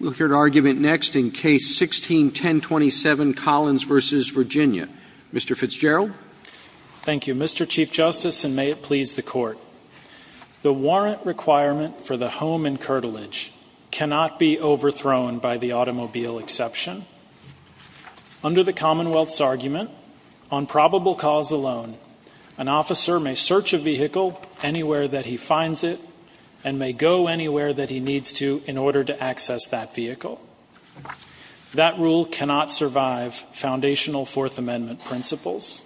We'll hear an argument next in Case 16-1027, Collins v. Virginia. Mr. Fitzgerald. Thank you, Mr. Chief Justice, and may it please the Court. The warrant requirement for the home and curtilage cannot be overthrown by the automobile exception. Under the Commonwealth's argument, on probable cause alone, an officer may search a vehicle anywhere that he finds it and may go anywhere that he needs to in order to access that vehicle. That rule cannot survive foundational Fourth Amendment principles.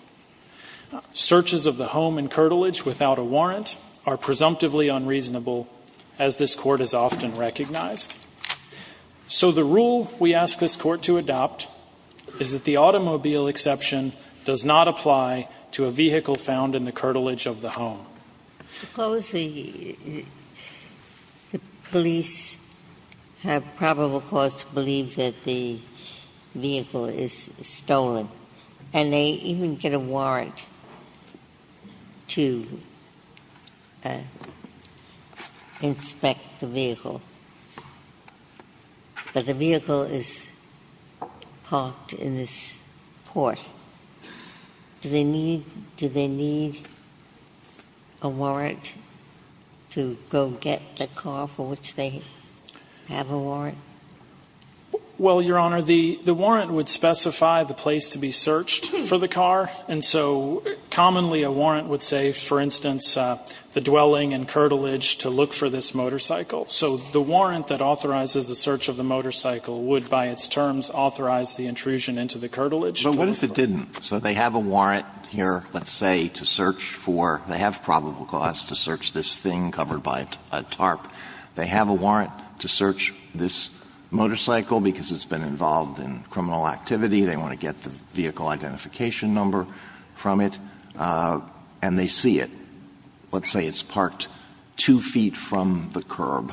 Searches of the home and curtilage without a warrant are presumptively unreasonable, as this Court has often recognized. So the rule we ask this Court to adopt is that the automobile exception does not apply to a vehicle found in the curtilage of the home. Suppose the police have probable cause to believe that the vehicle is stolen, and they even get a warrant to inspect the vehicle, but the vehicle is parked in this port. Do they need a warrant to go get the car for which they have a warrant? Well, Your Honor, the warrant would specify the place to be searched for the car. And so commonly a warrant would say, for instance, the dwelling and curtilage to look for this motorcycle. So the warrant that authorizes the search of the motorcycle would, by its terms, authorize the intrusion into the curtilage. But what if it didn't? So they have a warrant here, let's say, to search for – they have probable cause to search this thing covered by a tarp. They have a warrant to search this motorcycle because it's been involved in criminal activity. They want to get the vehicle identification number from it, and they see it. Let's say it's parked 2 feet from the curb,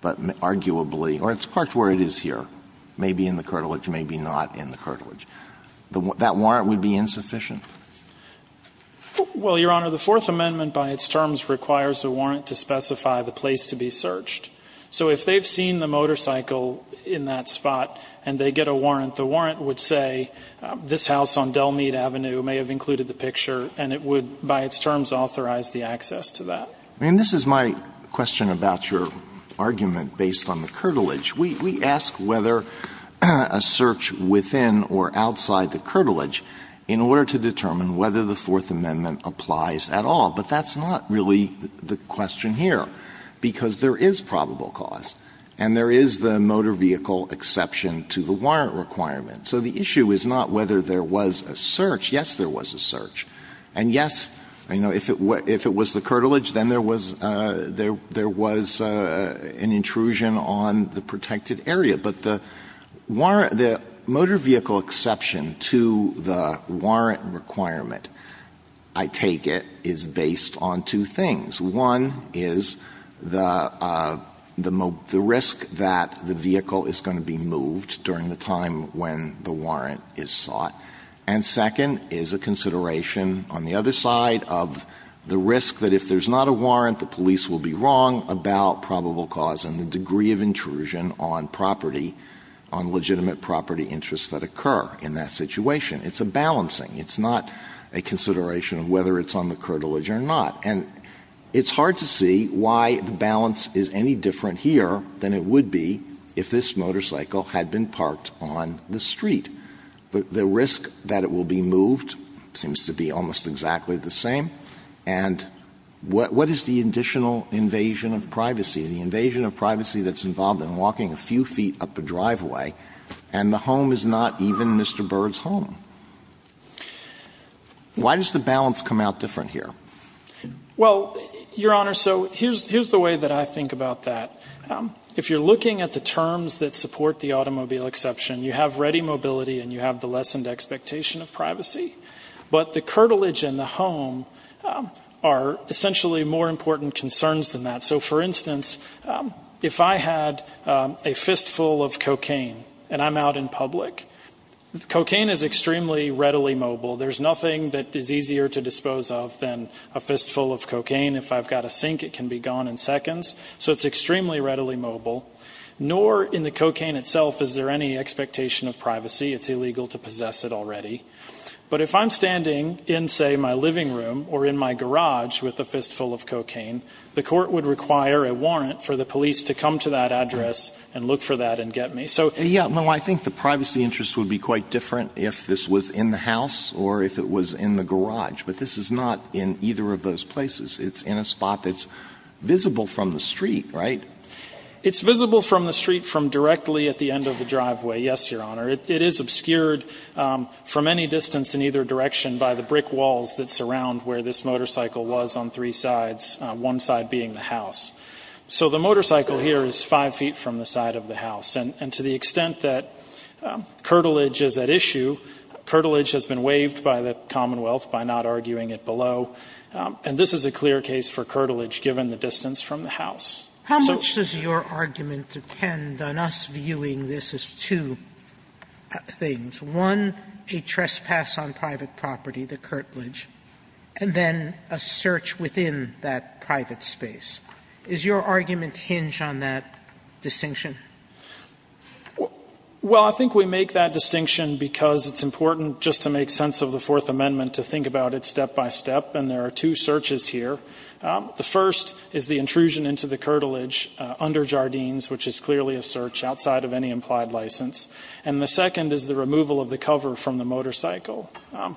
but arguably – or it's parked where it is here. Maybe in the curtilage, maybe not in the curtilage. That warrant would be insufficient. Well, Your Honor, the Fourth Amendment, by its terms, requires a warrant to specify the place to be searched. So if they've seen the motorcycle in that spot and they get a warrant, the warrant would say, this house on Delmead Avenue may have included the picture, and it would, by its terms, authorize the access to that. I mean, this is my question about your argument based on the curtilage. We ask whether a search within or outside the curtilage in order to determine whether the Fourth Amendment applies at all, but that's not really the question here, because there is probable cause, and there is the motor vehicle exception to the warrant requirement. So the issue is not whether there was a search. Yes, there was a search. And yes, you know, if it was the curtilage, then there was – there was an intrusion on the protected area, but the warrant – the motor vehicle exception to the warrant requirement, I take it, is based on two things. One is the risk that the vehicle is going to be moved during the time when the warrant is sought. And second is a consideration on the other side of the risk that if there's not a warrant, the police will be wrong about probable cause and the degree of intrusion on property – on legitimate property interests that occur in that situation. It's a balancing. It's not a consideration of whether it's on the curtilage or not. And it's hard to see why the balance is any different here than it would be if this motorcycle had been parked on the street. The risk that it will be moved seems to be almost exactly the same. And what is the additional invasion of privacy? The invasion of privacy that's involved in walking a few feet up a driveway, and the home is not even Mr. Byrd's home. Why does the balance come out different here? Well, Your Honor, so here's the way that I think about that. If you're looking at the terms that support the automobile exception, you have ready mobility and you have the lessened expectation of privacy. But the curtilage and the home are essentially more important concerns than that. So, for instance, if I had a fistful of cocaine and I'm out in public, cocaine is extremely readily mobile. There's nothing that is easier to dispose of than a fistful of cocaine. If I've got a sink, it can be gone in seconds. So it's extremely readily mobile. Nor in the cocaine itself is there any expectation of privacy. It's illegal to possess it already. But if I'm standing in, say, my living room or in my garage with a fistful of cocaine, the court would require a warrant for the police to come to that address and look for that and get me. So yeah, no, I think the privacy interest would be quite different if this was in the house or if it was in the garage. But this is not in either of those places. It's in a spot that's visible from the street, right? It's visible from the street from directly at the end of the driveway, yes, Your Honor. It is obscured from any distance in either direction by the brick walls that surround where this motorcycle was on three sides, one side being the house. So the motorcycle here is 5 feet from the side of the house. And to the extent that curtilage is at issue, curtilage has been waived by the Commonwealth by not arguing it below. And this is a clear case for curtilage given the distance from the house. Sotomayor How much does your argument depend on us viewing this as two things? One, a trespass on private property, the curtilage, and then a search within that private space. Does your argument hinge on that distinction? Fisher Well, I think we make that distinction because it's important just to make sense of the Fourth Amendment to think about it step by step. And there are two searches here. The first is the intrusion into the curtilage under Jardines, which is clearly a search outside of any implied license. And the second is the removal of the cover from the motorcycle,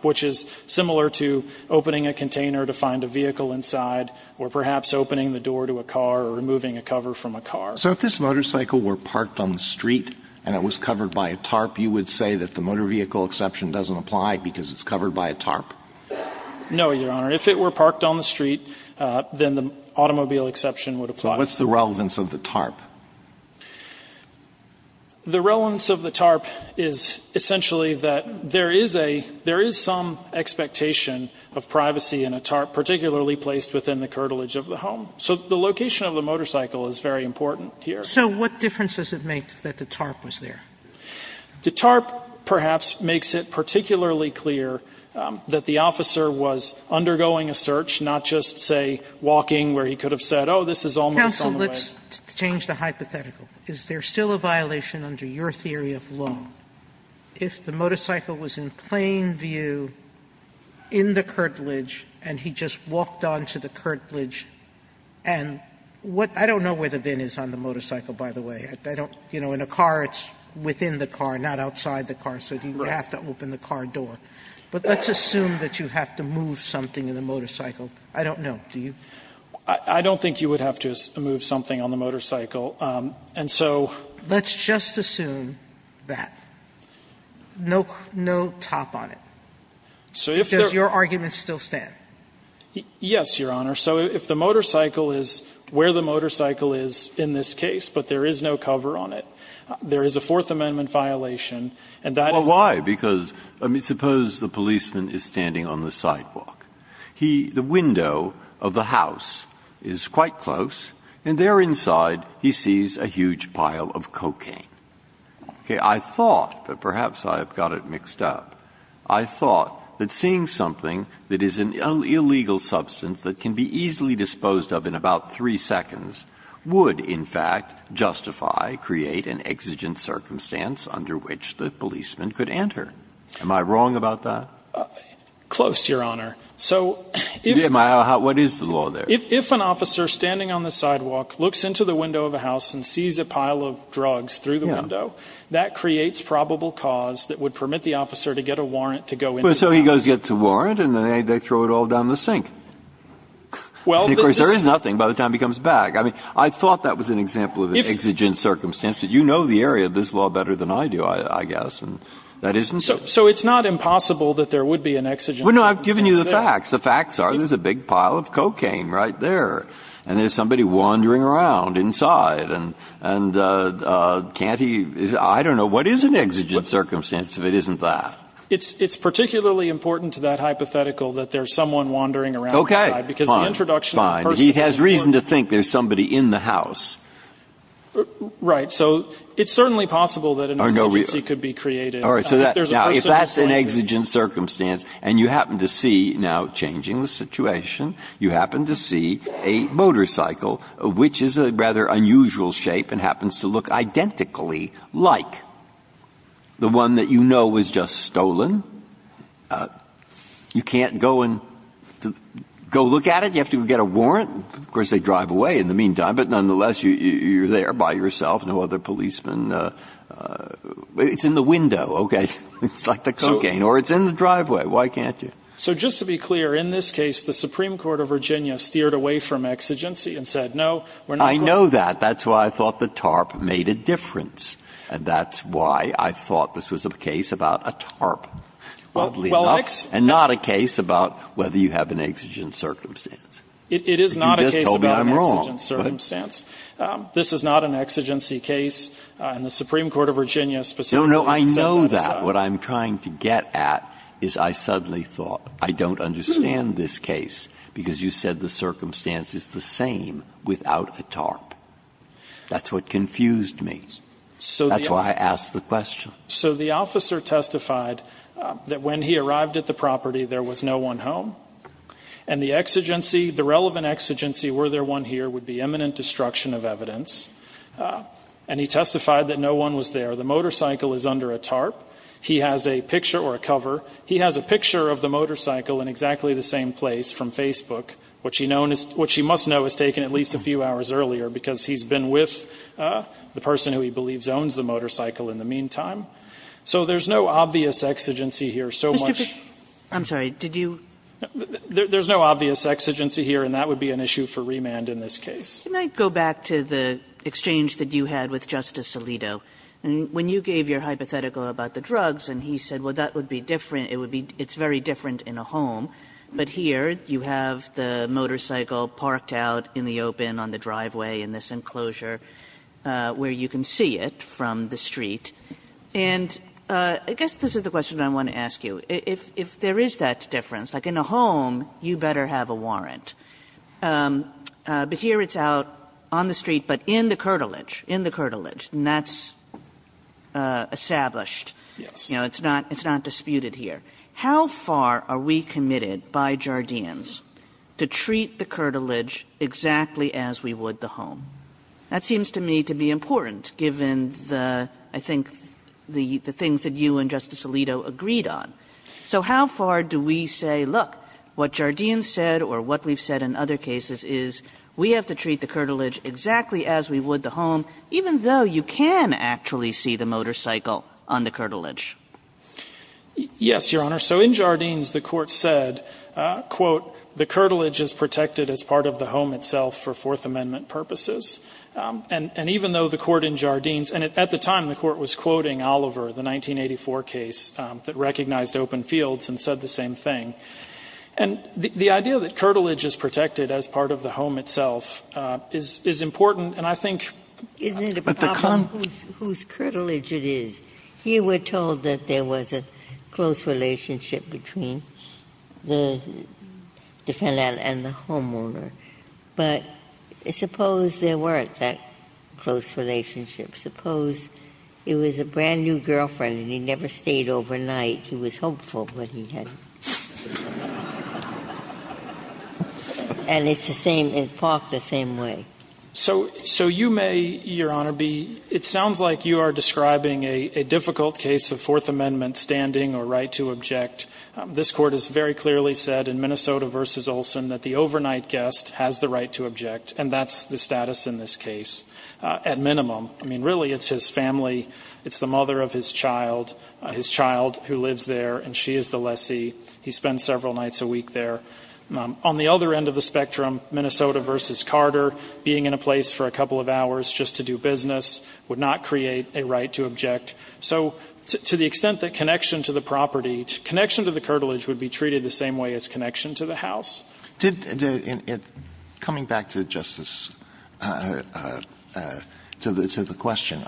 which is similar to opening a container to find a vehicle inside or perhaps opening the door to a car or removing a cover from a car. Alito So if this motorcycle were parked on the street and it was covered by a tarp, you would say that the motor vehicle exception doesn't apply because it's covered by a tarp? Fisher No, Your Honor. If it were parked on the street, then the automobile exception would apply. Alito So what's the relevance of the tarp? Fisher The relevance of the tarp is essentially that there is a – there is some expectation of privacy in a tarp, particularly placed within the curtilage of the home. So the location of the motorcycle is very important here. Sotomayor So what difference does it make that the tarp was there? Fisher The tarp perhaps makes it particularly clear that the officer was undergoing a search, not just, say, walking where he could have said, oh, this is almost on the Sotomayor Counsel, let's change the hypothetical. Is there still a violation under your theory of law if the motorcycle was in plain view in the curtilage and he just walked onto the curtilage and what – I don't know where the bin is on the motorcycle, by the way. In a car, it's within the car, not outside the car, so you have to open the car door. But let's assume that you have to move something in the motorcycle. I don't know. Do you? Fisher I don't think you would have to move something on the motorcycle. And so – Sotomayor Let's just assume that. No top on it. Does your argument still stand? Fisher Yes, Your Honor. So if the motorcycle is where the motorcycle is in this case, but there is no cover on it, there is a Fourth Amendment violation, and that is the problem. Breyer Why? Because, I mean, suppose the policeman is standing on the sidewalk. He – the window of the house is quite close, and there inside he sees a huge pile of cocaine. Okay. I thought, but perhaps I have got it mixed up, I thought that seeing something that is an illegal substance that can be easily disposed of in about three seconds would, in fact, justify, create an exigent circumstance under which the policeman could enter. Am I wrong about that? Fisher Close, Your Honor. So if – Breyer What is the law there? Fisher If an officer standing on the sidewalk looks into the window of a house and sees a pile of drugs through the window, that creates probable cause that would permit the officer to get a warrant to go into the house. Breyer But if he doesn't get a warrant, then they throw it all down the sink. And, of course, there is nothing by the time he comes back. I mean, I thought that was an example of an exigent circumstance, but you know the area of this law better than I do, I guess, and that isn't. Fisher So it's not impossible that there would be an exigent circumstance there. Breyer Well, no. I've given you the facts. The facts are there is a big pile of cocaine right there, and there is somebody wandering around inside, and can't he – I don't know. What is an exigent circumstance if it isn't that? Fisher It's particularly important to that hypothetical that there is someone wandering around inside. Breyer Okay. Fine. Fine. He has reason to think there is somebody in the house. Fisher Right. So it's certainly possible that an exigency could be created. Breyer All right. Now, if that's an exigent circumstance and you happen to see, now changing the situation, you happen to see a motorcycle, which is a rather unusual shape and happens to look stolen, you can't go and go look at it. You have to go get a warrant. Of course, they drive away in the meantime. But nonetheless, you're there by yourself, no other policemen. It's in the window, okay. It's like the cocaine. Or it's in the driveway. Why can't you? Fisher So just to be clear, in this case, the Supreme Court of Virginia steered away from exigency and said, no, we're not going to. Breyer I know that. That's why I thought the TARP made a difference. And that's why I thought this was a case about a TARP, oddly enough, and not a case about whether you have an exigent circumstance. Fisher It is not a case about an exigent circumstance. Breyer You just told me I'm wrong. Fisher This is not an exigency case. And the Supreme Court of Virginia specifically said that it's a case about an exigent circumstance. Breyer No, no. I know that. What I'm trying to get at is I suddenly thought, I don't understand this case because you said the circumstance is the same without a TARP. That's what confused me. That's why I asked the question. Fisher So the officer testified that when he arrived at the property, there was no one home. And the exigency, the relevant exigency, were there one here, would be eminent destruction of evidence. And he testified that no one was there. The motorcycle is under a TARP. He has a picture or a cover. He has a picture of the motorcycle in exactly the same place from Facebook, which he must know has taken at least a few hours earlier because he's been with the person who he believes owns the motorcycle in the meantime. So there's no obvious exigency here so much. Kagan I'm sorry. Did you? Fisher There's no obvious exigency here, and that would be an issue for remand in this case. Kagan Can I go back to the exchange that you had with Justice Alito? When you gave your hypothetical about the drugs and he said, well, that would be different, it's very different in a home, but here you have the motorcycle parked out in the open on the driveway in this enclosure where you can see it from the street. And I guess this is the question I want to ask you. If there is that difference, like in a home, you better have a warrant. But here it's out on the street, but in the curtilage, in the curtilage, and that's established. Fisher Yes. Kagan You know, it's not disputed here. How far are we committed by Jardines to treat the curtilage exactly as we would the home? That seems to me to be important given the, I think, the things that you and Justice Alito agreed on. So how far do we say, look, what Jardines said or what we've said in other cases is we have to treat the curtilage exactly as we would the home, even though you can actually see the motorcycle on the curtilage? Fisher Yes, Your Honor. So in Jardines the Court said, quote, the curtilage is protected as part of the home itself for Fourth Amendment purposes. And even though the Court in Jardines, and at the time the Court was quoting Oliver, the 1984 case that recognized open fields and said the same thing. And the idea that curtilage is protected as part of the home itself is important. And I think the problem is whose curtilage it is. Here we're told that there was a close relationship between the defendant and the homeowner. But suppose there weren't that close relationship. Suppose it was a brand-new girlfriend and he never stayed overnight. He was hopeful, but he hadn't. And it's the same. It's parked the same way. Fisher So you may, Your Honor, be ‑‑ it sounds like you are describing a difficult case of Fourth Amendment standing or right to object. This Court has very clearly said in Minnesota v. Olson that the overnight guest has the right to object, and that's the status in this case at minimum. I mean, really, it's his family. It's the mother of his child. His child who lives there, and she is the lessee. He spends several nights a week there. On the other end of the spectrum, Minnesota v. Carter, being in a place for a couple of hours just to do business would not create a right to object. So to the extent that connection to the property, connection to the curtilage would be treated the same way as connection to the house. Alito Did ‑‑ coming back to Justice ‑‑ to the question,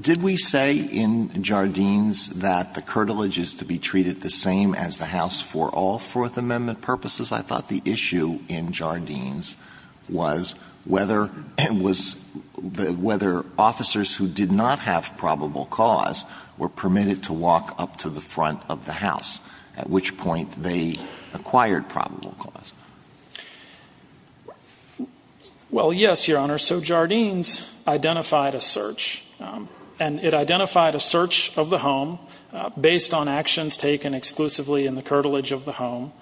did we say in Jardines that the curtilage is to be treated the same as the house for all Fourth Amendment purposes? I thought the issue in Jardines was whether ‑‑ was whether officers who did not have probable cause were permitted to walk up to the front of the house, at which point they acquired probable cause. Well, yes, Your Honor. So Jardines identified a search, and it identified a search of the home based on actions taken exclusively in the curtilage of the home,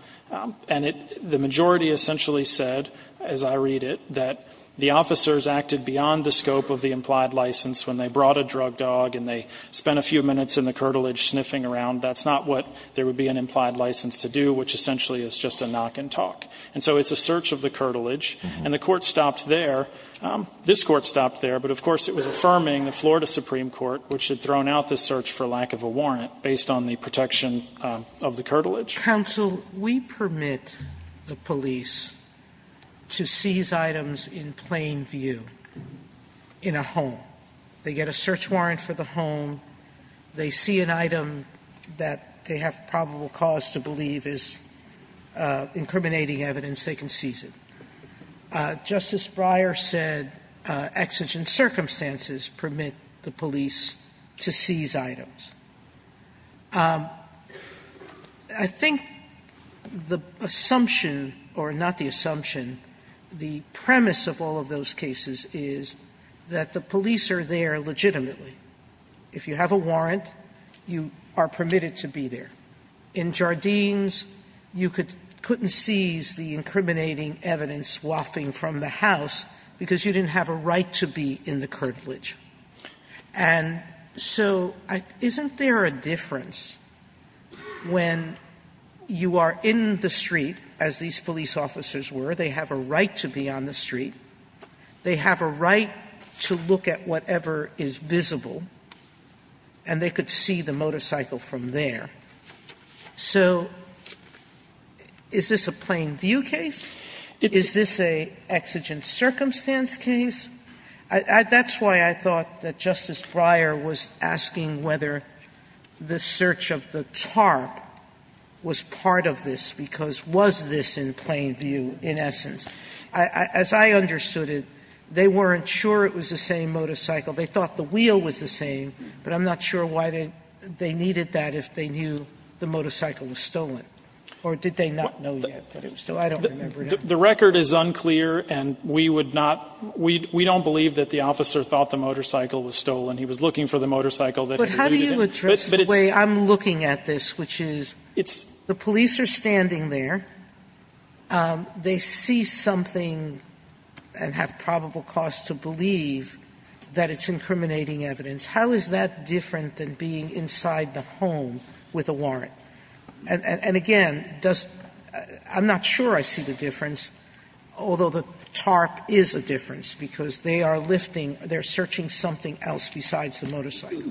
and it ‑‑ the majority essentially said, as I read it, that the officers acted beyond the scope of the implied license when they brought a drug dog and they spent a few minutes in the curtilage sniffing around. That's not what there would be an implied license to do, which essentially is just a knock and talk. And so it's a search of the curtilage. And the Court stopped there. This Court stopped there, but of course it was affirming the Florida Supreme Court, which had thrown out the search for lack of a warrant based on the protection of the curtilage. Sotomayor, we permit the police to seize items in plain view in a home. They get a search warrant for the home. They see an item that they have probable cause to believe is incriminating evidence. They can seize it. Justice Breyer said exigent circumstances permit the police to seize items. I think the assumption, or not the assumption, the premise of all of those cases is that the police are there legitimately. If you have a warrant, you are permitted to be there. In Jardines, you couldn't seize the incriminating evidence swapping from the house because you didn't have a right to be in the curtilage. And so isn't there a difference when you are in the street, as these police officers were, they have a right to be on the street. They have a right to look at whatever is visible, and they could see the motorcycle from there. So is this a plain view case? Is this an exigent circumstance case? That's why I thought that Justice Breyer was asking whether the search of the tarp was part of this, because was this in plain view in essence? As I understood it, they weren't sure it was the same motorcycle. They thought the wheel was the same, but I'm not sure why they needed that if they knew the motorcycle was stolen. Or did they not know yet that it was stolen? I don't remember now. The record is unclear, and we would not, we don't believe that the officer thought the motorcycle was stolen. He was looking for the motorcycle that he needed. But how do you address the way I'm looking at this, which is the police are standing there, they see something and have probable cause to believe that it's incriminating evidence, how is that different than being inside the home with a warrant? And again, does, I'm not sure I see the difference, although the tarp is a difference, because they are lifting, they are searching something else besides the motorcycle.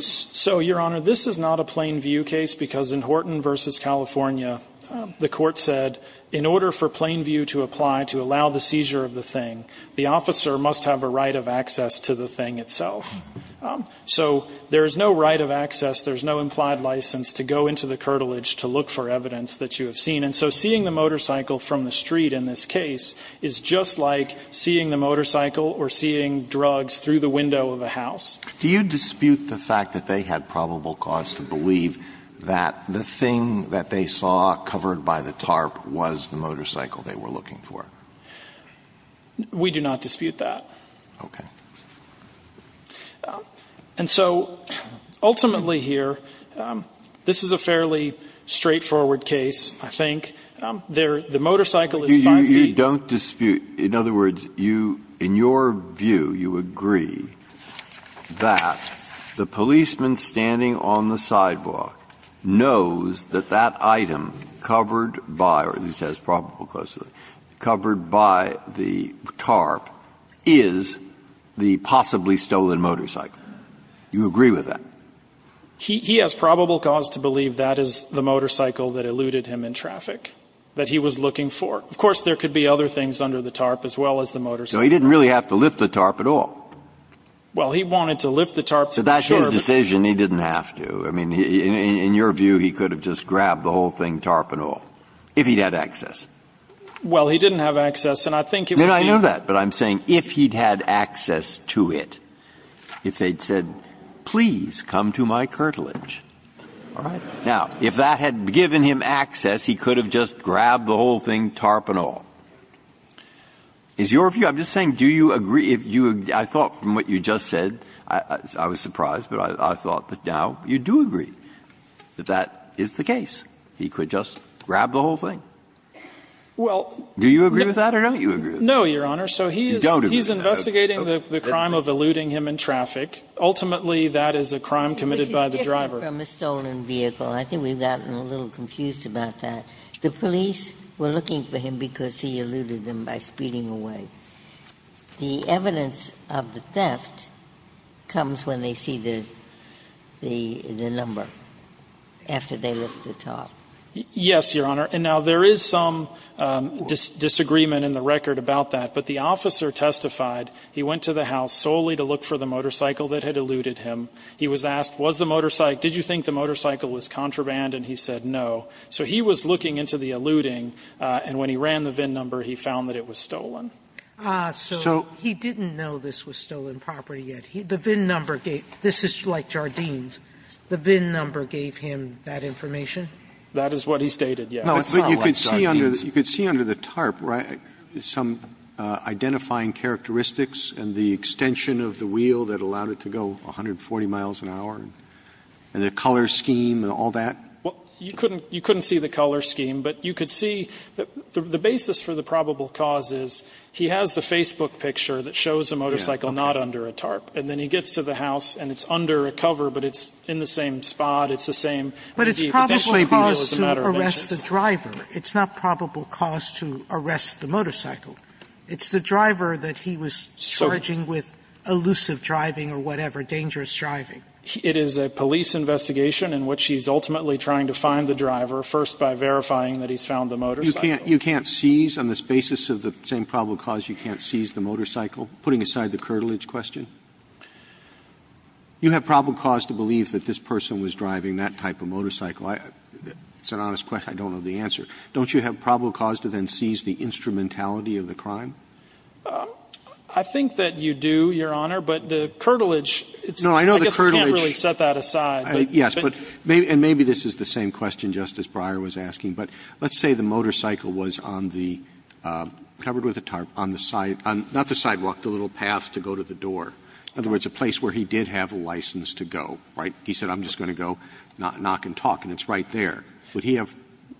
So, Your Honor, this is not a plain view case, because in Horton v. California, the court said in order for plain view to apply to allow the seizure of the thing, the officer must have a right of access to the thing itself. So there is no right of access, there is no implied license to go into the curtilage to look for evidence that you have seen. And so seeing the motorcycle from the street in this case is just like seeing the motorcycle or seeing drugs through the window of a house. Do you dispute the fact that they had probable cause to believe that the thing that they saw covered by the tarp was the motorcycle they were looking for? We do not dispute that. Okay. And so ultimately here, this is a fairly straightforward case, I think. The motorcycle is 5 feet. Breyer. You don't dispute, in other words, you, in your view, you agree that the policeman standing on the sidewalk knows that that item covered by, or at least has probable cause, covered by the tarp is the possibly stolen motorcycle. You agree with that? He has probable cause to believe that is the motorcycle that eluded him in traffic that he was looking for. Of course, there could be other things under the tarp as well as the motorcycle. So he didn't really have to lift the tarp at all? Well, he wanted to lift the tarp to be sure. But that's his decision. He didn't have to. I mean, in your view, he could have just grabbed the whole thing, tarp and all, if he had access. Well, he didn't have access, and I think it would be. I know that, but I'm saying if he had access to it, if they had said, please, come to my curtilage. All right. Now, if that had given him access, he could have just grabbed the whole thing, tarp and all. Is your view, I'm just saying, do you agree, I thought from what you just said, I was surprised, but I thought that now you do agree that that is the case. He could just grab the whole thing. Do you agree with that or don't you agree with that? No, Your Honor. So he is investigating the crime of eluding him in traffic. Ultimately, that is a crime committed by the driver. From a stolen vehicle. I think we've gotten a little confused about that. The police were looking for him because he eluded them by speeding away. The evidence of the theft comes when they see the number, after they lift the tarp. Yes, Your Honor. And now, there is some disagreement in the record about that, but the officer testified he went to the house solely to look for the motorcycle that had eluded him. He was asked, was the motorcycle, did you think the motorcycle was contraband? And he said no. So he was looking into the eluding, and when he ran the VIN number, he found that it was stolen. So he didn't know this was stolen property yet. The VIN number gave, this is like Jardine's, the VIN number gave him that information? That is what he stated, yes. No, it's not like Jardine's. But you could see under the tarp, right, some identifying characteristics and the extension of the wheel that allowed it to go 140 miles an hour and the color scheme and all that? You couldn't see the color scheme, but you could see the basis for the probable cause is he has the Facebook picture that shows a motorcycle not under a tarp. And then he gets to the house, and it's under a cover, but it's in the same spot. It's the same. But it's probable cause to arrest the driver. It's not probable cause to arrest the motorcycle. It's the driver that he was charging with elusive driving or whatever, dangerous driving. It is a police investigation in which he's ultimately trying to find the driver first by verifying that he's found the motorcycle. You can't seize, on this basis of the same probable cause, you can't seize the motorcycle? Putting aside the curtilage question. You have probable cause to believe that this person was driving that type of motorcycle. It's an honest question. I don't know the answer. Don't you have probable cause to then seize the instrumentality of the crime? I think that you do, Your Honor. But the curtilage, I guess we can't really set that aside. Yes. And maybe this is the same question Justice Breyer was asking. But let's say the motorcycle was on the, covered with a tarp, on the side, not the sidewalk, the little path to go to the door. In other words, a place where he did have a license to go, right? He said I'm just going to go knock and talk, and it's right there. Would he have?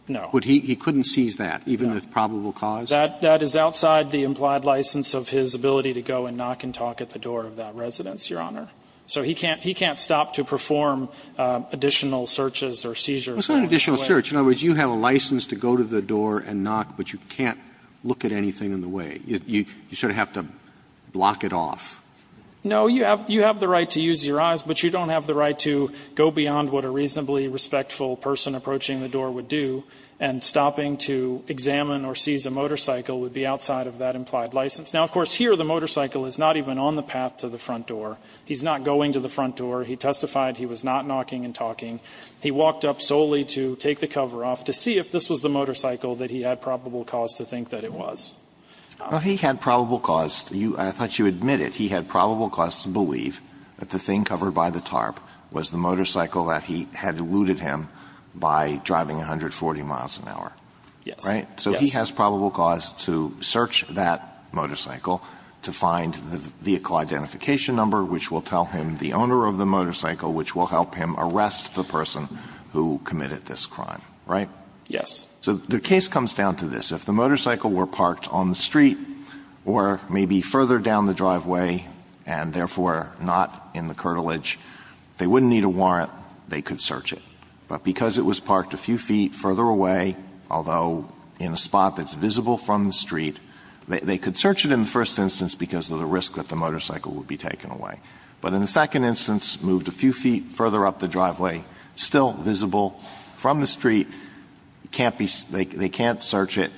No. He couldn't seize that, even with probable cause? That is outside the implied license of his ability to go and knock and talk at the door of that residence, Your Honor. So he can't stop to perform additional searches or seizures. It's not an additional search. In other words, you have a license to go to the door and knock, but you can't look at anything in the way. You sort of have to block it off. No. You have the right to use your eyes, but you don't have the right to go beyond what a reasonably respectful person approaching the door would do, and stopping to examine or seize a motorcycle would be outside of that implied license. Now, of course, here the motorcycle is not even on the path to the front door. He's not going to the front door. He testified he was not knocking and talking. He walked up solely to take the cover off to see if this was the motorcycle that he had probable cause to think that it was. Alito, he had probable cause. I thought you admitted he had probable cause to believe that the thing covered by the tarp was the motorcycle that he had looted him by driving 140 miles an hour. Yes. Right? So he has probable cause to search that motorcycle to find the vehicle identification number, which will tell him the owner of the motorcycle, which will help him arrest the person who committed this crime. Right? Yes. So the case comes down to this. If the motorcycle were parked on the street or maybe further down the driveway and therefore not in the curtilage, they wouldn't need a warrant. They could search it. But because it was parked a few feet further away, although in a spot that's visible from the street, they could search it in the first instance because of the risk that the motorcycle would be taken away. But in the second instance, moved a few feet further up the driveway, still visible from the street, they can't search it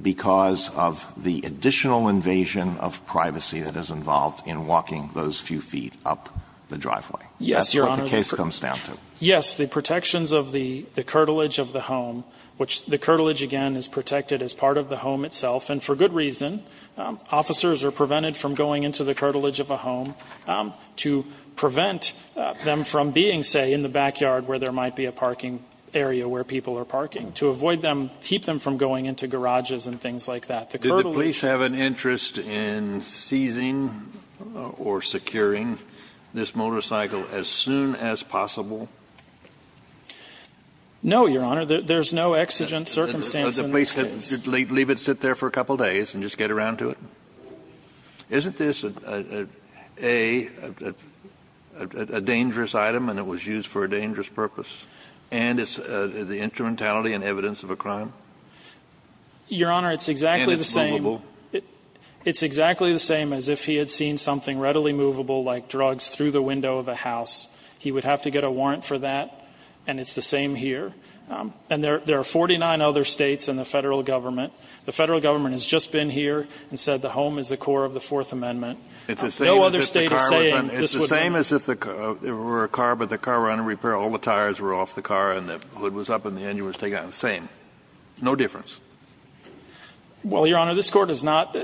because of the additional invasion of privacy that is involved in walking those few feet up the driveway. Yes, Your Honor. That's what the case comes down to. Yes. The protections of the curtilage of the home, which the curtilage, again, is protected as part of the home itself. And for good reason. Officers are prevented from going into the curtilage of a home to prevent them from being, say, in the backyard where there might be a parking area where people are parking, to avoid them, keep them from going into garages and things like that. Did the police have an interest in seizing or securing this motorcycle as soon as possible? No, Your Honor. There's no exigent circumstance in this case. Did the police leave it sit there for a couple days and just get around to it? Isn't this a dangerous item and it was used for a dangerous purpose? And it's the instrumentality and evidence of a crime? Your Honor, it's exactly the same. And it's movable? It's exactly the same as if he had seen something readily movable, like drugs, through the window of a house. He would have to get a warrant for that, and it's the same here. And there are 49 other States and the Federal Government. The Federal Government has just been here and said the home is the core of the Fourth Amendment. No other State is saying this would happen. It's the same as if there were a car, but the car were under repair, all the tires were off the car, and the hood was up, and the engine was taken out. It's the same. No difference. Well, Your Honor, this Court is not,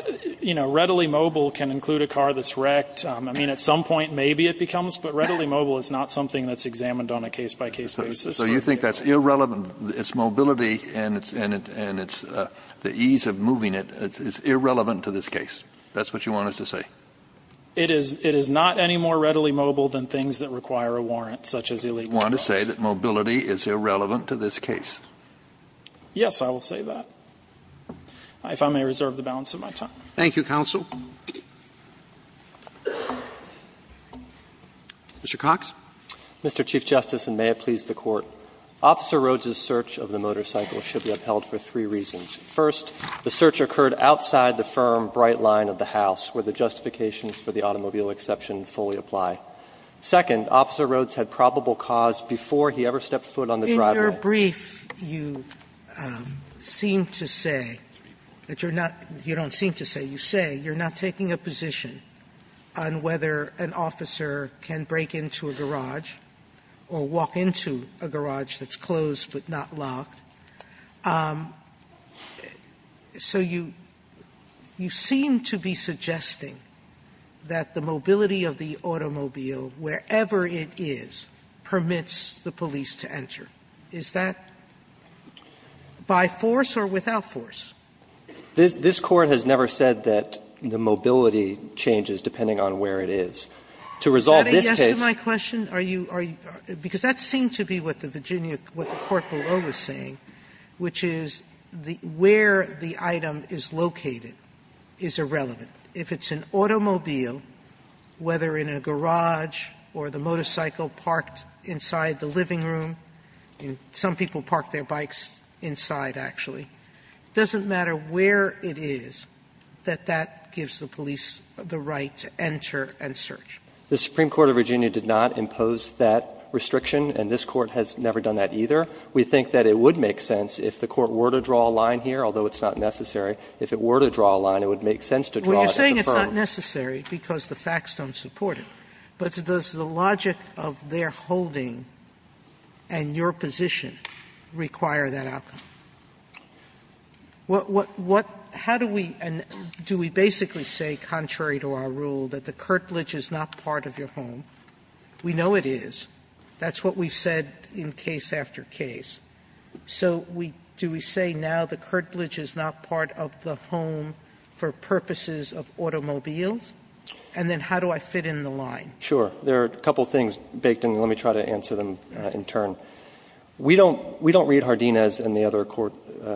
you know, readily mobile can include a car that's wrecked. I mean, at some point maybe it becomes, but readily mobile is not something that's examined on a case-by-case basis. So you think that's irrelevant? It's mobility and it's the ease of moving it. It's irrelevant to this case. That's what you want us to say? It is not any more readily mobile than things that require a warrant, such as illegal drugs. So you want to say that mobility is irrelevant to this case? Yes, I will say that, if I may reserve the balance of my time. Thank you, counsel. Mr. Cox. Mr. Chief Justice, and may it please the Court. Officer Rhodes' search of the motorcycle should be upheld for three reasons. First, the search occurred outside the firm bright line of the house, where the justifications for the automobile exception fully apply. Second, Officer Rhodes had probable cause before he ever stepped foot on the driveway. In your brief, you seem to say that you're not – you don't seem to say. You say you're not taking a position on whether an officer can break into a garage or walk into a garage that's closed but not locked. So you – you seem to be suggesting that the mobility of the automobile, wherever it is, permits the police to enter. Is that by force or without force? This Court has never said that the mobility changes depending on where it is. To resolve this case – Is that a yes to my question? Are you – because that seemed to be what the Virginia – what the Court below was saying, which is where the item is located is irrelevant. If it's an automobile, whether in a garage or the motorcycle parked inside the living room, some people park their bikes inside, actually, it doesn't matter where it is that that gives the police the right to enter and search. The Supreme Court of Virginia did not impose that restriction and this Court has never done that either. We think that it would make sense if the Court were to draw a line here, although it's not necessary. If it were to draw a line, it would make sense to draw it at the firm. Sotomayor, Well, you're saying it's not necessary because the facts don't support it, but does the logic of their holding and your position require that outcome? What – what – how do we – do we basically say, contrary to our rule, that the curtilage is not part of your home? We know it is. That's what we've said in case after case. So we – do we say now the curtilage is not part of the home for purposes of automobiles? And then how do I fit in the line? Sure. There are a couple of things, Bakedon, and let me try to answer them in turn. We don't – we don't read Hardinez and the other Court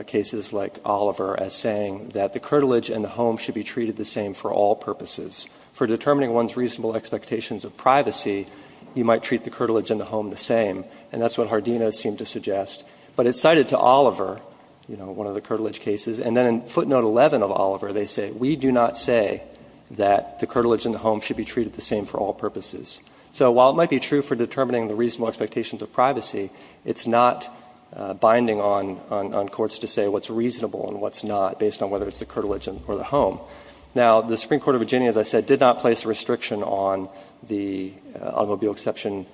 cases like Oliver as saying that the curtilage in the home should be treated the same for all purposes. For determining one's reasonable expectations of privacy, you might treat the curtilage in the home the same, and that's what Hardinez seemed to suggest. But it's cited to Oliver, you know, one of the curtilage cases, and then in footnote 11 of Oliver, they say, we do not say that the curtilage in the home should be treated the same for all purposes. So while it might be true for determining the reasonable expectations of privacy, it's not binding on – on courts to say what's reasonable and what's not based on whether it's the curtilage or the home. Now, the Supreme Court of Virginia, as I said, did not place a restriction on the automobile exception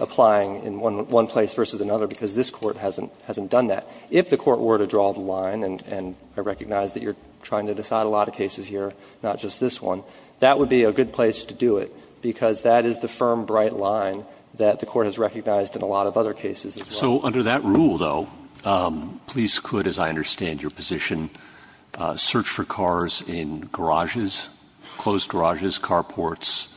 applying in one place versus another because this Court hasn't done that. If the Court were to draw the line, and I recognize that you're trying to decide a lot of cases here, not just this one, that would be a good place to do it, because that is the firm, bright line that the Court has recognized in a lot of other cases as well. So under that rule, though, police could, as I understand your position, search for cars in garages, closed garages, carports,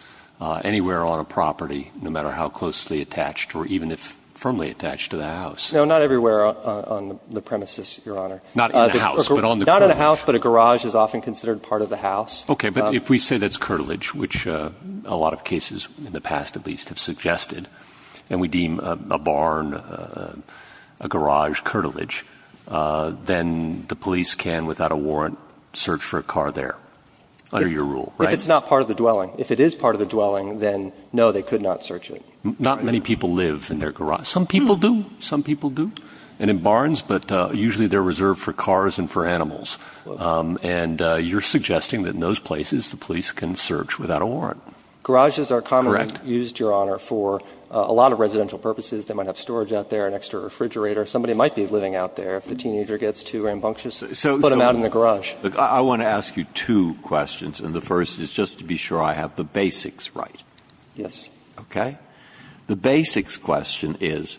anywhere on a property, no matter how closely attached or even if firmly attached to the house. No, not everywhere on the premises, Your Honor. Not in the house, but on the curb. Not in the house, but a garage is often considered part of the house. Okay. But if we say that's curtilage, which a lot of cases in the past at least have suggested, and we deem a barn, a garage curtilage, then the police can, without a warrant, search for a car there under your rule, right? If it's not part of the dwelling. If it is part of the dwelling, then no, they could not search it. Not many people live in their garage. Some people do. Some people do. And in barns, but usually they're reserved for cars and for animals. Correct. Garages are commonly used, Your Honor, for a lot of residential purposes. They might have storage out there, an extra refrigerator. Somebody might be living out there. If the teenager gets too rambunctious, put him out in the garage. I want to ask you two questions. And the first is just to be sure I have the basics right. Yes. Okay. The basics question is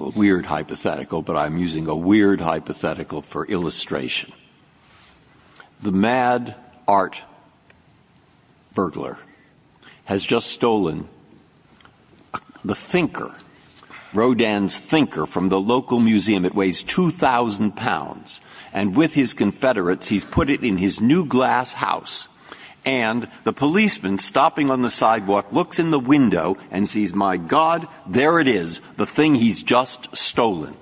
a weird hypothetical, but I'm using a weird hypothetical for illustration. The mad art burglar has just stolen the thinker, Rodin's thinker, from the local museum. It weighs 2,000 pounds. And with his confederates, he's put it in his new glass house. And the policeman, stopping on the sidewalk, looks in the window and sees, my God, there it is, the thing he's just stolen.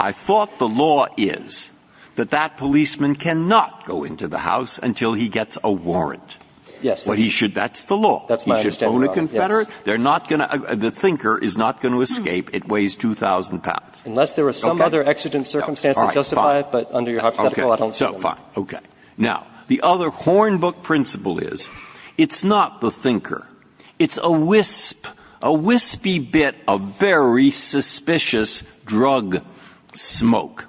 I thought the law is that that policeman cannot go into the house until he gets a warrant. Yes. That's the law. That's my understanding, Your Honor. He should phone a confederate. The thinker is not going to escape. It weighs 2,000 pounds. Unless there are some other exigent circumstances justify it, but under your hypothetical, I don't see why. Okay. Now, the other Hornbook principle is it's not the thinker. It's a wisp, a wispy bit of very suspicious drug smoke.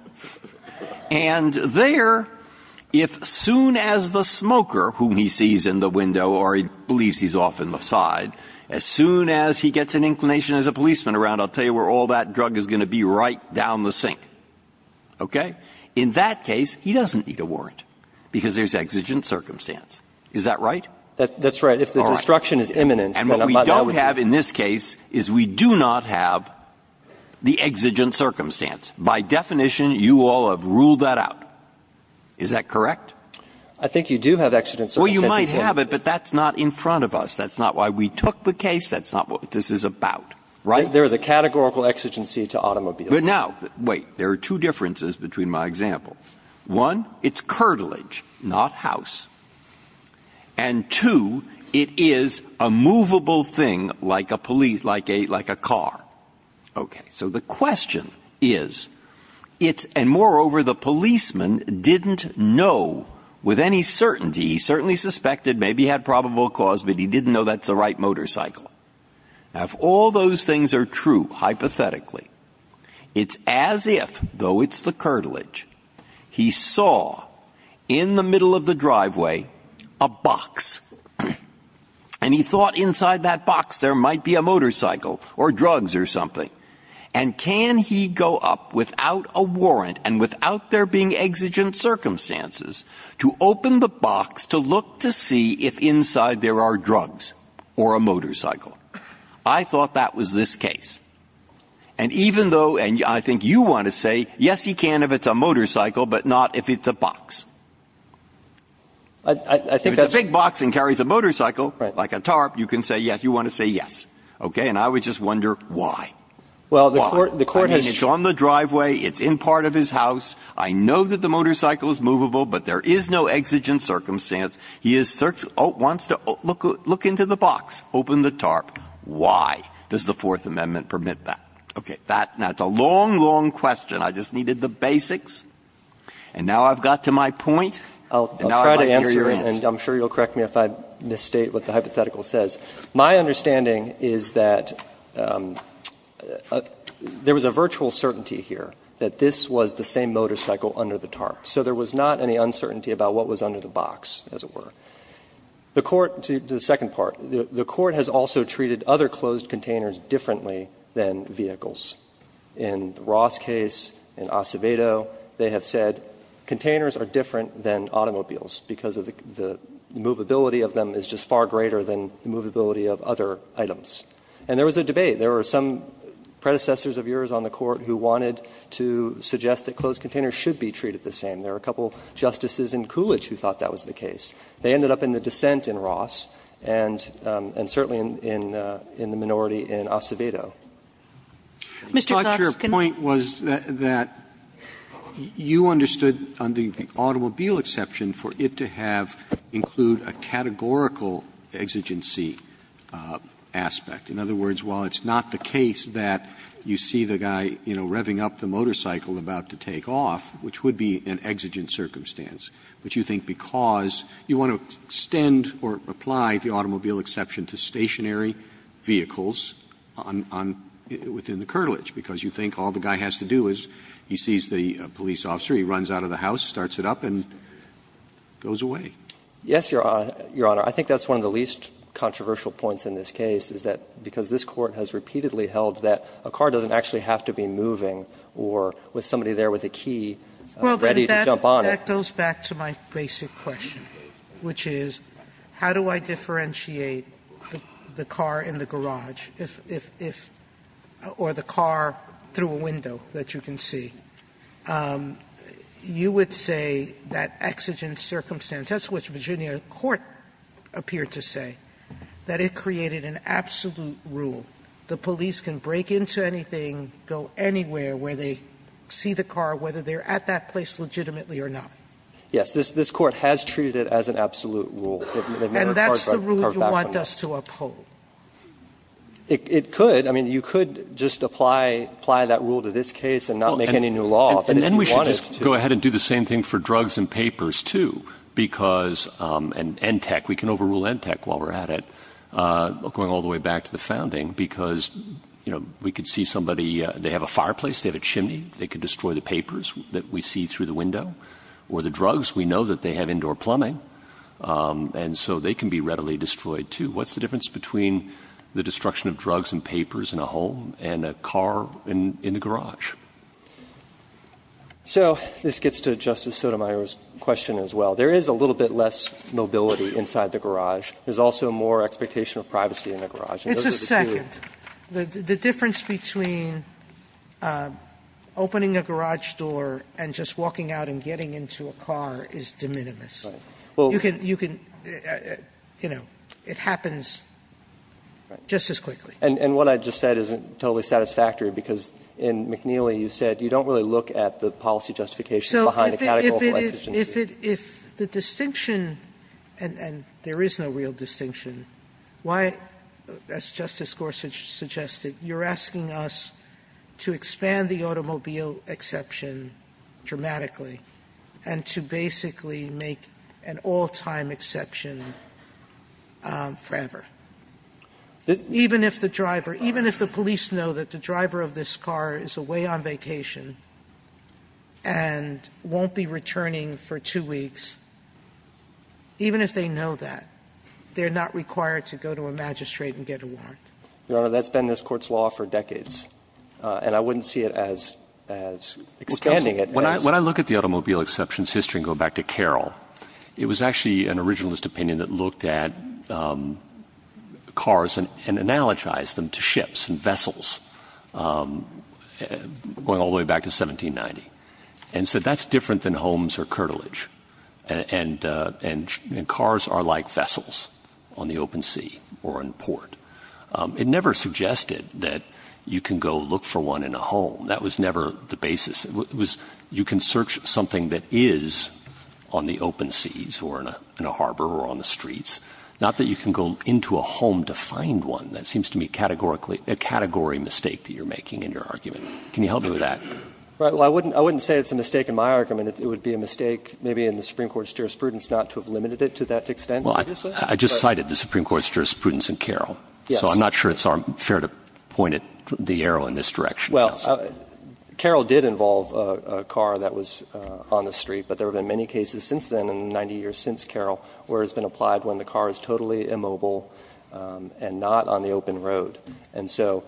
And there, if soon as the smoker, whom he sees in the window or he believes he's off in the side, as soon as he gets an inclination as a policeman around, I'll tell you where all that drug is going to be right down the sink, okay? In that case, he doesn't need a warrant because there's exigent circumstance. Is that right? That's right. All right. And what we don't have in this case is we do not have the exigent circumstance. By definition, you all have ruled that out. Is that correct? I think you do have exigent circumstances. Well, you might have it, but that's not in front of us. That's not why we took the case. That's not what this is about. Right? There is a categorical exigency to automobiles. But now, wait. There are two differences between my example. One, it's curtilage, not house. And, two, it is a movable thing like a police, like a car. Okay. So the question is, it's and, moreover, the policeman didn't know with any certainty, he certainly suspected maybe he had probable cause, but he didn't know that's the right motorcycle. Now, if all those things are true, hypothetically, it's as if, though it's the curtilage, he saw in the middle of the driveway a box. And he thought inside that box there might be a motorcycle or drugs or something. And can he go up without a warrant and without there being exigent circumstances to open the box to look to see if inside there are drugs or a motorcycle? I thought that was this case. And even though, and I think you want to say, yes, he can if it's a motorcycle, but not if it's a box. If it's a big box and carries a motorcycle, like a tarp, you can say yes, you want to say yes. Okay. And I would just wonder why. Why? I mean, it's on the driveway. It's in part of his house. I know that the motorcycle is movable, but there is no exigent circumstance. He wants to look into the box, open the tarp. Why? Does the Fourth Amendment permit that? Okay. Now, it's a long, long question. I just needed the basics. And now I've got to my point. And now I'd like to hear your answer. I'll try to answer it, and I'm sure you'll correct me if I misstate what the hypothetical says. My understanding is that there was a virtual certainty here that this was the same motorcycle under the tarp. So there was not any uncertainty about what was under the box, as it were. The Court to the second part, the Court has also treated other closed containers differently than vehicles. In Ross' case, in Acevedo, they have said containers are different than automobiles because the movability of them is just far greater than the movability of other items. And there was a debate. There were some predecessors of yours on the Court who wanted to suggest that closed containers should be treated the same. There are a couple of justices in Coolidge who thought that was the case. They ended up in the dissent in Ross and certainly in the minority in Acevedo. Mr. Knapp, can I? Roberts, your point was that you understood under the automobile exception for it to have include a categorical exigency aspect. In other words, while it's not the case that you see the guy, you know, revving up the motorcycle about to take off, which would be an exigent circumstance, but you think because you want to extend or apply the automobile exception to stationary vehicles on the, within the curtilage, because you think all the guy has to do is he sees the police officer, he runs out of the house, starts it up, and goes away. Knapp, Yes, Your Honor. I think that's one of the least controversial points in this case, is that because this Court has repeatedly held that a car doesn't actually have to be moving or with somebody there with a key ready to jump on it. Sotomayor, Well, that goes back to my basic question, which is how do I differentiate the car in the garage if, if, if, or the car through a window that you can see? You would say that exigent circumstance, that's what Virginia court appeared to say, that it created an absolute rule, the police can break into anything, go anywhere where they see the car, whether they're at that place legitimately or not. Knapp, Yes, this, this Court has treated it as an absolute rule. Sotomayor, And that's the rule you want us to uphold? Knapp, It, it could. I mean, you could just apply, apply that rule to this case and not make any new law, but if you wanted to. Breyer, And then we should just go ahead and do the same thing for drugs and papers, too, because, and ENTEC, we can overrule ENTEC while we're at it, going all the way back to the founding, because, you know, we could see somebody, they have a fireplace, they have a chimney, they could destroy the papers that we see through the window. Or the drugs, we know that they have indoor plumbing, and so they can be readily destroyed, too. What's the difference between the destruction of drugs and papers in a home and a car in, in the garage? Knapp, So this gets to Justice Sotomayor's question as well. There is a little bit less mobility inside the garage. There's also more expectation of privacy in the garage. Sotomayor, It's a second. The difference between opening a garage door and just walking out and getting into a car is de minimis. You can, you can, you know, it happens just as quickly. And what I just said isn't totally satisfactory, because in McNeely you said you don't really look at the policy justifications behind the categorical exigency. Sotomayor, So if it, if the distinction, and there is no real distinction, why, as Justice Gorsuch suggested, you're asking us to expand the automobile exception dramatically and to basically make an all-time exception forever? Even if the driver, even if the police know that the driver of this car is away on vacation and won't be returning for two weeks, even if they know that, they're not required to go to a magistrate and get a warrant? Knapp, Your Honor, that's been this Court's law for decades, and I wouldn't see it as, as expanding it. Roberts, When I look at the automobile exceptions history and go back to Carroll, it was actually an originalist opinion that looked at cars and analogized them to ships and vessels going all the way back to 1790. And so that's different than homes or curtilage. And, and, and cars are like vessels on the open sea or on port. It never suggested that you can go look for one in a home. That was never the basis. It was, you can search something that is on the open seas or in a harbor or on the streets, not that you can go into a home to find one. That seems to me categorically, a category mistake that you're making in your argument. Can you help me with that? Well, I wouldn't, I wouldn't say it's a mistake in my argument. It would be a mistake maybe in the Supreme Court's jurisprudence not to have limited it to that extent. Well, I just cited the Supreme Court's jurisprudence in Carroll. So I'm not sure it's fair to point the arrow in this direction. Well, Carroll did involve a car that was on the street, but there have been many cases since then, in the 90 years since Carroll, where it's been applied when the car is totally immobile and not on the open road. And so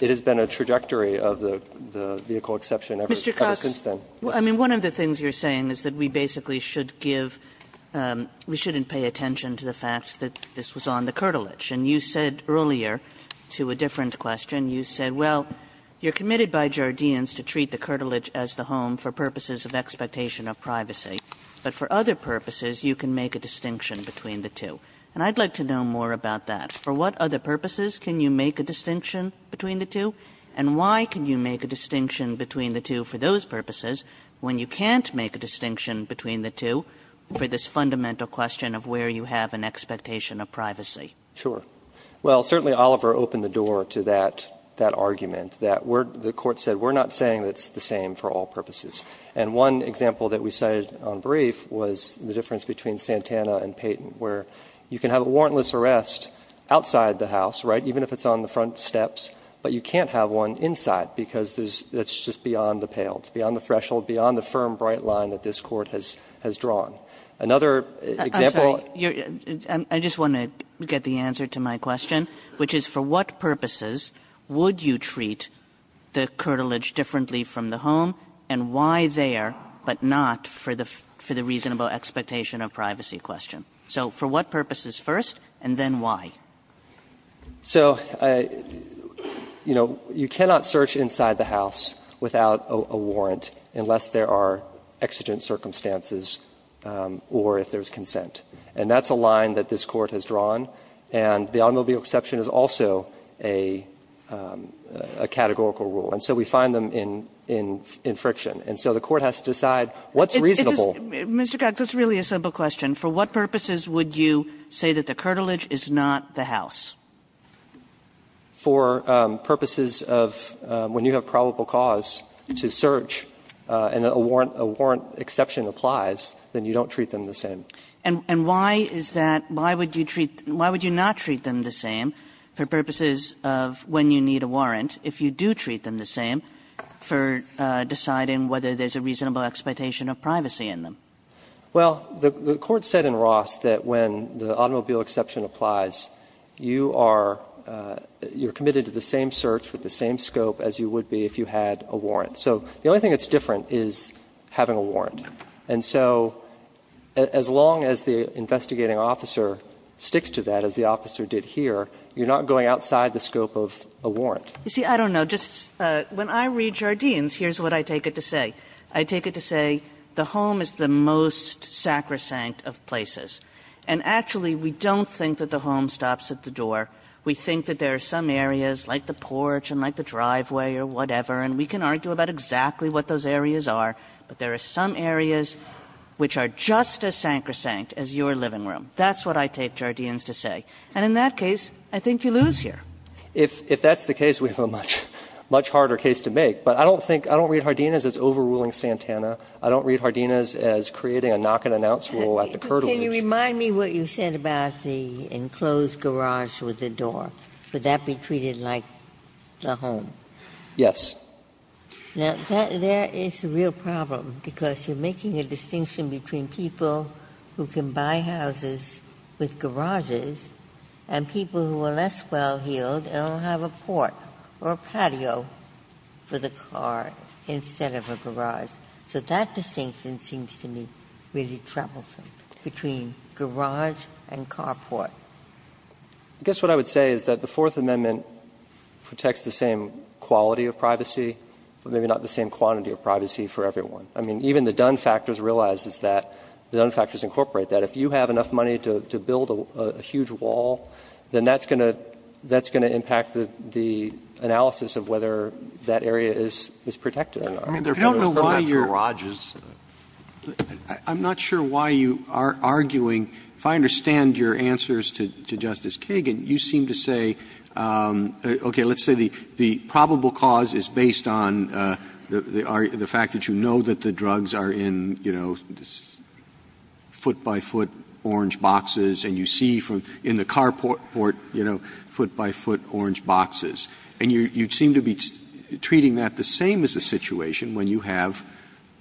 it has been a trajectory of the vehicle exception ever since then. Kagan, Mr. Cox, I mean, one of the things you're saying is that we basically should give, we shouldn't pay attention to the fact that this was on the curtilage. And you said earlier, to a different question, you said, well, you're committed by Jardines to treat the curtilage as the home for purposes of expectation of privacy, but for other purposes, you can make a distinction between the two. And I'd like to know more about that. For what other purposes can you make a distinction between the two, and why can you make a distinction between the two for those purposes when you can't make a distinction between the two for this fundamental question of where you have an expectation of privacy? Sure. Well, certainly Oliver opened the door to that argument, that the Court said we're not saying it's the same for all purposes. And one example that we cited on brief was the difference between Santana and Payton, where you can have a warrantless arrest outside the house, right, even if it's on the front steps, but you can't have one inside because that's just beyond the pale. It's beyond the threshold, beyond the firm, bright line that this Court has drawn. And that's the answer to my question, which is for what purposes would you treat the curtilage differently from the home, and why there, but not for the reasonable expectation of privacy question? So for what purposes first, and then why? So, you know, you cannot search inside the house without a warrant unless there are exigent circumstances or if there's consent. And that's a line that this Court has drawn, and the automobile exception is also a categorical rule. And so we find them in friction. And so the Court has to decide what's reasonable. Mr. Cox, that's really a simple question. For what purposes would you say that the curtilage is not the house? For purposes of when you have probable cause to search and a warrant exception applies, then you don't treat them the same. And why is that? Why would you treat them – why would you not treat them the same for purposes of when you need a warrant if you do treat them the same for deciding whether there's a reasonable expectation of privacy in them? Well, the Court said in Ross that when the automobile exception applies, you are – you are committed to the same search with the same scope as you would be if you had a warrant. So the only thing that's different is having a warrant. And so as long as the investigating officer sticks to that, as the officer did here, you're not going outside the scope of a warrant. You see, I don't know. Just when I read Jardines, here's what I take it to say. I take it to say the home is the most sacrosanct of places. And actually, we don't think that the home stops at the door. We think that there are some areas, like the porch and like the driveway or whatever, and we can argue about exactly what those areas are. But there are some areas which are just as sacrosanct as your living room. That's what I take Jardines to say. And in that case, I think you lose here. If that's the case, we have a much harder case to make. But I don't think – I don't read Jardines as overruling Santana. I don't read Jardines as creating a knock-and-announce rule at the curtailers. Can you remind me what you said about the enclosed garage with the door? Would that be treated like the home? Yes. Ginsburg. Now, there is a real problem, because you're making a distinction between people who can buy houses with garages and people who are less well-heeled and will have a port or a patio for the car instead of a garage. So that distinction seems to me really troublesome, between garage and carport. I guess what I would say is that the Fourth Amendment protects the same quality of privacy, but maybe not the same quantity of privacy for everyone. I mean, even the Dunn factors realizes that, the Dunn factors incorporate that, if you have enough money to build a huge wall, then that's going to – that's going to impact the analysis of whether that area is protected or not. I mean, there are people who have garages. I don't know why you're – I'm not sure why you are arguing. If I understand your answers to Justice Kagan, you seem to say, okay, let's say the probable cause is based on the fact that you know that the drugs are in, you know, foot-by-foot orange boxes and you see in the carport, you know, foot-by-foot orange boxes, and you seem to be treating that the same as the situation when you have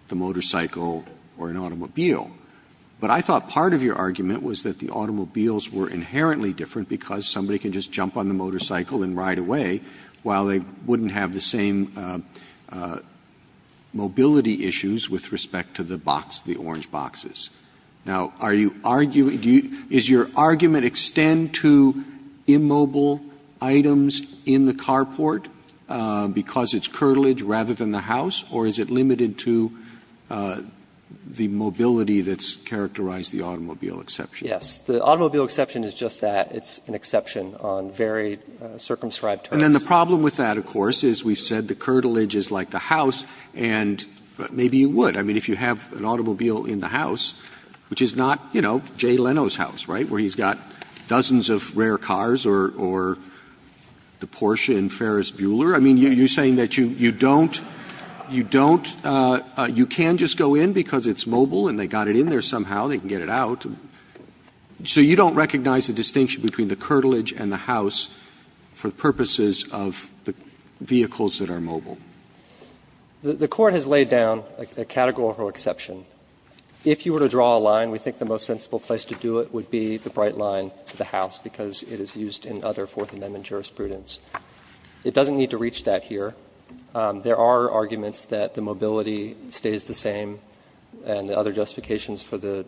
the motorcycle or an automobile. But I thought part of your argument was that the automobiles were inherently different because somebody can just jump on the motorcycle and ride away while they wouldn't have the same mobility issues with respect to the box, the orange boxes. Now, are you arguing – is your argument extend to immobile items in the carport because it's curtilage rather than the house, or is it limited to the mobility that's characterized the automobile exception? Yes. The automobile exception is just that. It's an exception on very circumscribed terms. And then the problem with that, of course, is we've said the curtilage is like the house, and maybe you would. I mean, if you have an automobile in the house, which is not, you know, Jay Leno's house, right, where he's got dozens of rare cars or the Porsche and Ferris Bueller, I mean, you're saying that you don't – you don't – you can just go in because it's mobile and they got it in there somehow. They can get it out. So you don't recognize the distinction between the curtilage and the house for purposes of the vehicles that are mobile? The Court has laid down a categorical exception. If you were to draw a line, we think the most sensible place to do it would be the bright line to the house, because it is used in other Fourth Amendment jurisprudence. It doesn't need to reach that here. There are arguments that the mobility stays the same and the other justifications for the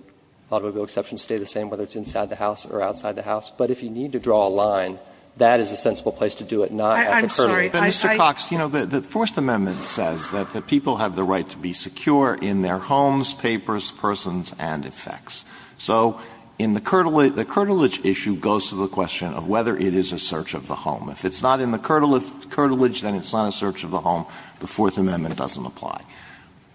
automobile exceptions stay the same, whether it's inside the house or outside the house. But if you need to draw a line, that is a sensible place to do it, not at the curtilage. I – I – Mr. Cox, you know, the Fourth Amendment says that the people have the right to be secure in their homes, papers, persons, and effects. So in the curtilage – the curtilage issue goes to the question of whether it is a search of the home. If it's not in the curtilage, then it's not a search of the home. The Fourth Amendment doesn't apply.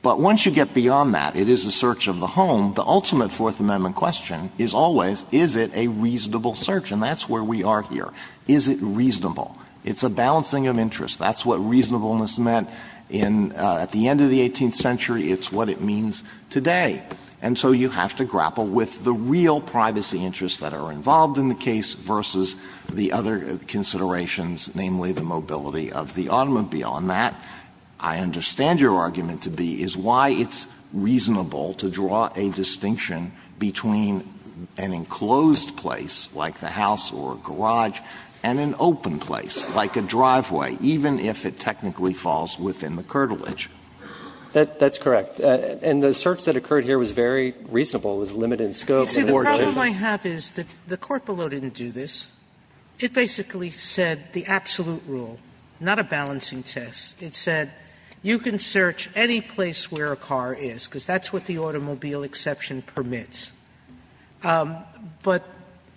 But once you get beyond that, it is a search of the home, the ultimate Fourth Amendment question is always, is it a reasonable search? And that's where we are here. Is it reasonable? It's a balancing of interests. That's what reasonableness meant in – at the end of the 18th century. It's what it means today. And so you have to grapple with the real privacy interests that are involved in the case versus the other considerations, namely the mobility of the automobile. So the question is whether it's reasonable to draw a distinction between an enclosed place like the house or a garage and an open place like a driveway, even if it technically falls within the curtilage. That's correct. And the search that occurred here was very reasonable. It was limited in scope and in order to do that. Sotomayor, you see, the problem I have is that the court below didn't do this. It basically said the absolute rule, not a balancing test. It said you can search any place where a car is, because that's what the automobile exception permits. But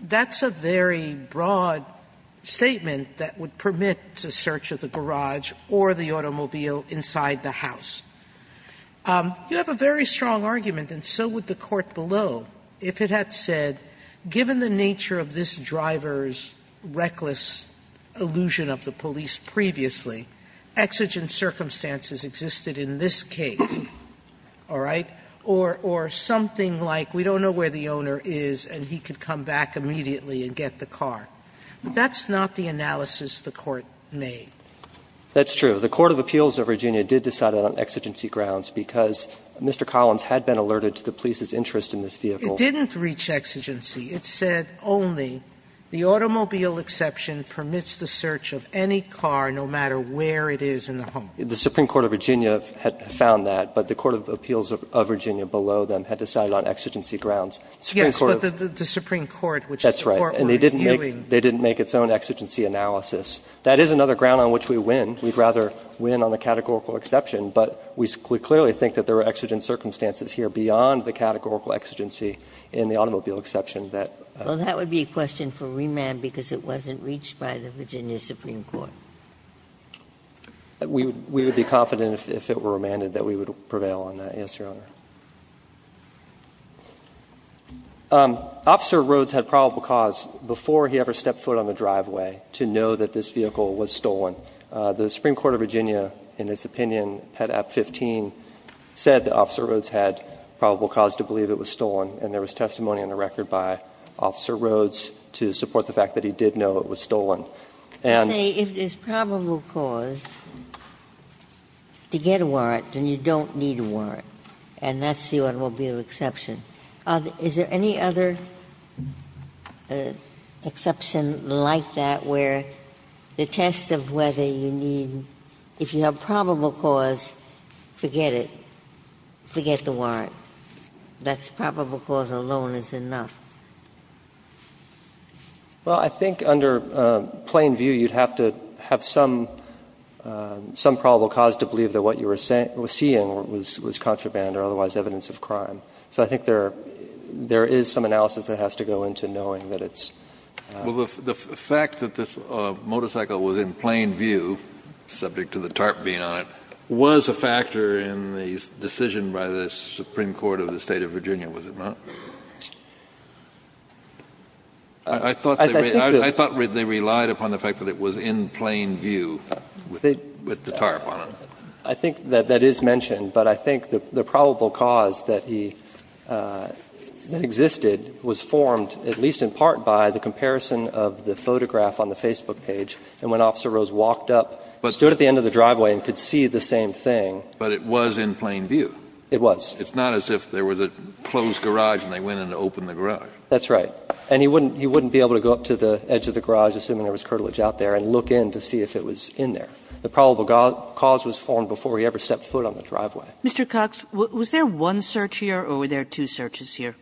that's a very broad statement that would permit the search of the garage or the automobile inside the house. You have a very strong argument, and so would the court below, if it had said given the nature of this driver's reckless illusion of the police previously, exigent circumstances existed in this case, all right, or something like we don't know where the owner is and he could come back immediately and get the car. That's not the analysis the court made. That's true. The court of appeals of Virginia did decide on exigency grounds because Mr. Collins had been alerted to the police's interest in this vehicle. It didn't reach exigency. It said only the automobile exception permits the search of any car no matter where it is in the home. The Supreme Court of Virginia had found that, but the court of appeals of Virginia below them had decided on exigency grounds. Yes, but the Supreme Court, which the court was reviewing. That's right, and they didn't make its own exigency analysis. That is another ground on which we win. We'd rather win on the categorical exception, but we clearly think that there are exigent Well, that would be a question for remand because it wasn't reached by the Virginia Supreme Court. We would be confident if it were remanded that we would prevail on that. Yes, Your Honor. Officer Rhodes had probable cause before he ever stepped foot on the driveway to know that this vehicle was stolen. The Supreme Court of Virginia, in its opinion, had at 15 said that Officer Rhodes had probable cause to believe it was stolen, and there was testimony on the record by Officer Rhodes to support the fact that he did know it was stolen. And Say, if there's probable cause to get a warrant, then you don't need a warrant, and that's the automobile exception. Is there any other exception like that where the test of whether you need, if you have probable cause, forget it, forget the warrant. That's probable cause alone is enough. Well, I think under plain view, you'd have to have some probable cause to believe that what you were seeing was contraband or otherwise evidence of crime. So I think there is some analysis that has to go into knowing that it's Well, the fact that this motorcycle was in plain view, subject to the tarp being on it, was a factor in the decision by the Supreme Court of the State of Virginia, was it not? I thought they relied upon the fact that it was in plain view with the tarp on it. I think that that is mentioned, but I think the probable cause that he, that existed was formed at least in part by the comparison of the photograph on the Facebook page, and when Officer Rose walked up, stood at the end of the driveway, and could see the same thing. But it was in plain view. It was. It's not as if there was a closed garage and they went in to open the garage. That's right. And he wouldn't be able to go up to the edge of the garage, assuming there was curtilage out there, and look in to see if it was in there. The probable cause was formed before he ever stepped foot on the driveway. Mr. Cox, was there one search here or were there two searches here?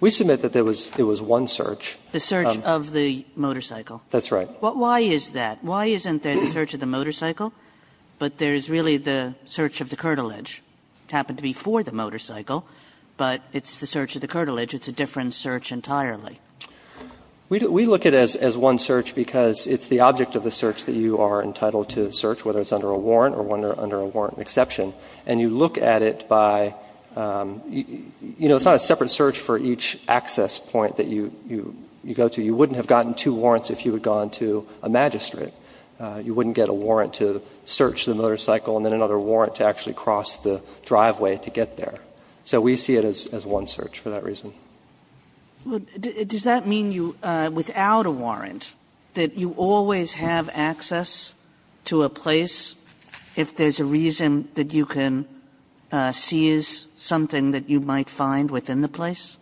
We submit that there was one search. The search of the motorcycle. That's right. Why is that? Why isn't there the search of the motorcycle, but there is really the search of the curtilage? It happened to be for the motorcycle, but it's the search of the curtilage. It's a different search entirely. We look at it as one search because it's the object of the search that you are entitled to search, whether it's under a warrant or one under a warrant exception. And you look at it by, you know, it's not a separate search for each access point that you go to. You wouldn't have gotten two warrants if you had gone to a magistrate. You wouldn't get a warrant to search the motorcycle and then another warrant to actually cross the driveway to get there. So we see it as one search for that reason. Does that mean you, without a warrant, that you always have access to a place if there's a reason that you can seize something that you might find within the place?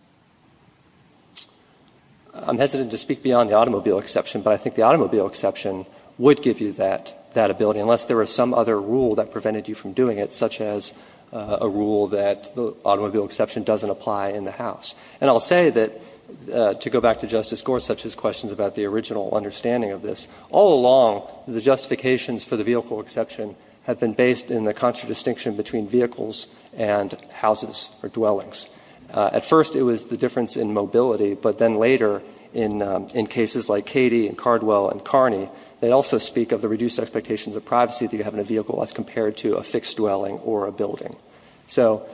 I'm hesitant to speak beyond the automobile exception, but I think the automobile exception would give you that ability, unless there was some other rule that prevented you from doing it, such as a rule that the automobile exception doesn't apply in the house. And I'll say that, to go back to Justice Gorsuch's questions about the original understanding of this, all along the justifications for the vehicle exception have been based in the contradistinction between vehicles and houses or dwellings. At first it was the difference in mobility, but then later in cases like Cady and Cardwell and Kearney, they also speak of the reduced expectations of privacy that you have in a vehicle as compared to a fixed dwelling or a building. So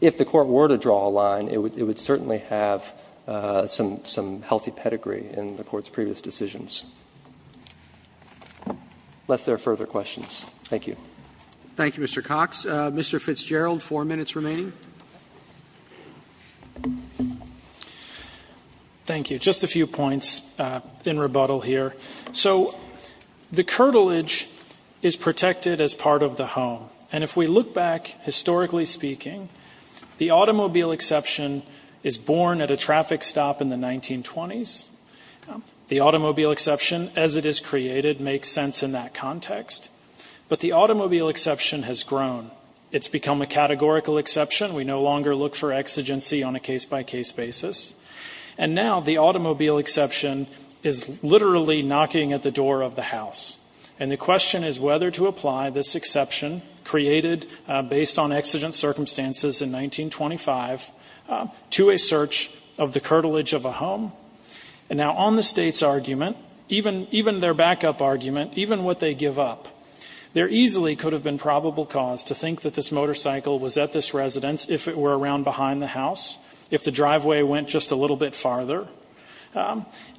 if the Court were to draw a line, it would certainly have some healthy pedigree in the Court's previous decisions. Unless there are further questions. Thank you. Thank you, Mr. Cox. Mr. Fitzgerald, four minutes remaining. Thank you. Just a few points in rebuttal here. So the curtilage is protected as part of the home. And if we look back, historically speaking, the automobile exception is born at a traffic stop in the 1920s. The automobile exception, as it is created, makes sense in that context. But the automobile exception has grown. It's become a categorical exception. We no longer look for exigency on a case-by-case basis. And now the automobile exception is literally knocking at the door of the house. And the question is whether to apply this exception created based on exigent circumstances in 1925 to a search of the curtilage of a home. And now on the State's argument, even their backup argument, even what they give up, there easily could have been probable cause to think that this motorcycle was at this residence if it were around behind the house, if the driveway went just a little bit farther.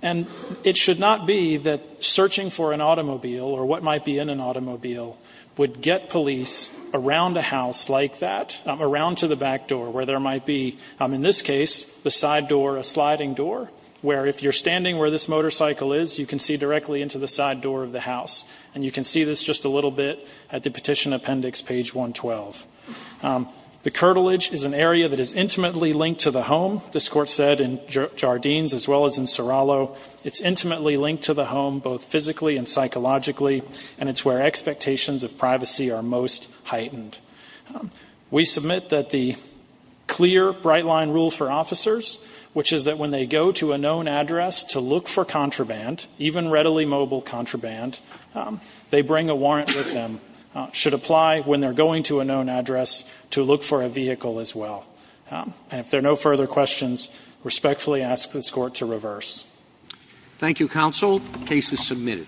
And it should not be that searching for an automobile or what might be in an automobile would get police around a house like that, around to the back door, where there might be, in this case, the side door, a sliding door, where if you're standing where this motorcycle is, you can see directly into the side door of the house. And you can see this just a little bit at the petition appendix, page 112. The curtilage is an area that is intimately linked to the home. This court said in Jardines as well as in Serrallo, it's intimately linked to the home both physically and psychologically, and it's where expectations of privacy are most heightened. We submit that the clear bright line rule for officers, which is that when they go to a known address to look for contraband, even readily mobile contraband, they bring a warrant with them, should apply when they're going to a known address to look for a vehicle as well. And if there are no further questions, respectfully ask this court to reverse. Thank you, counsel. Case is submitted.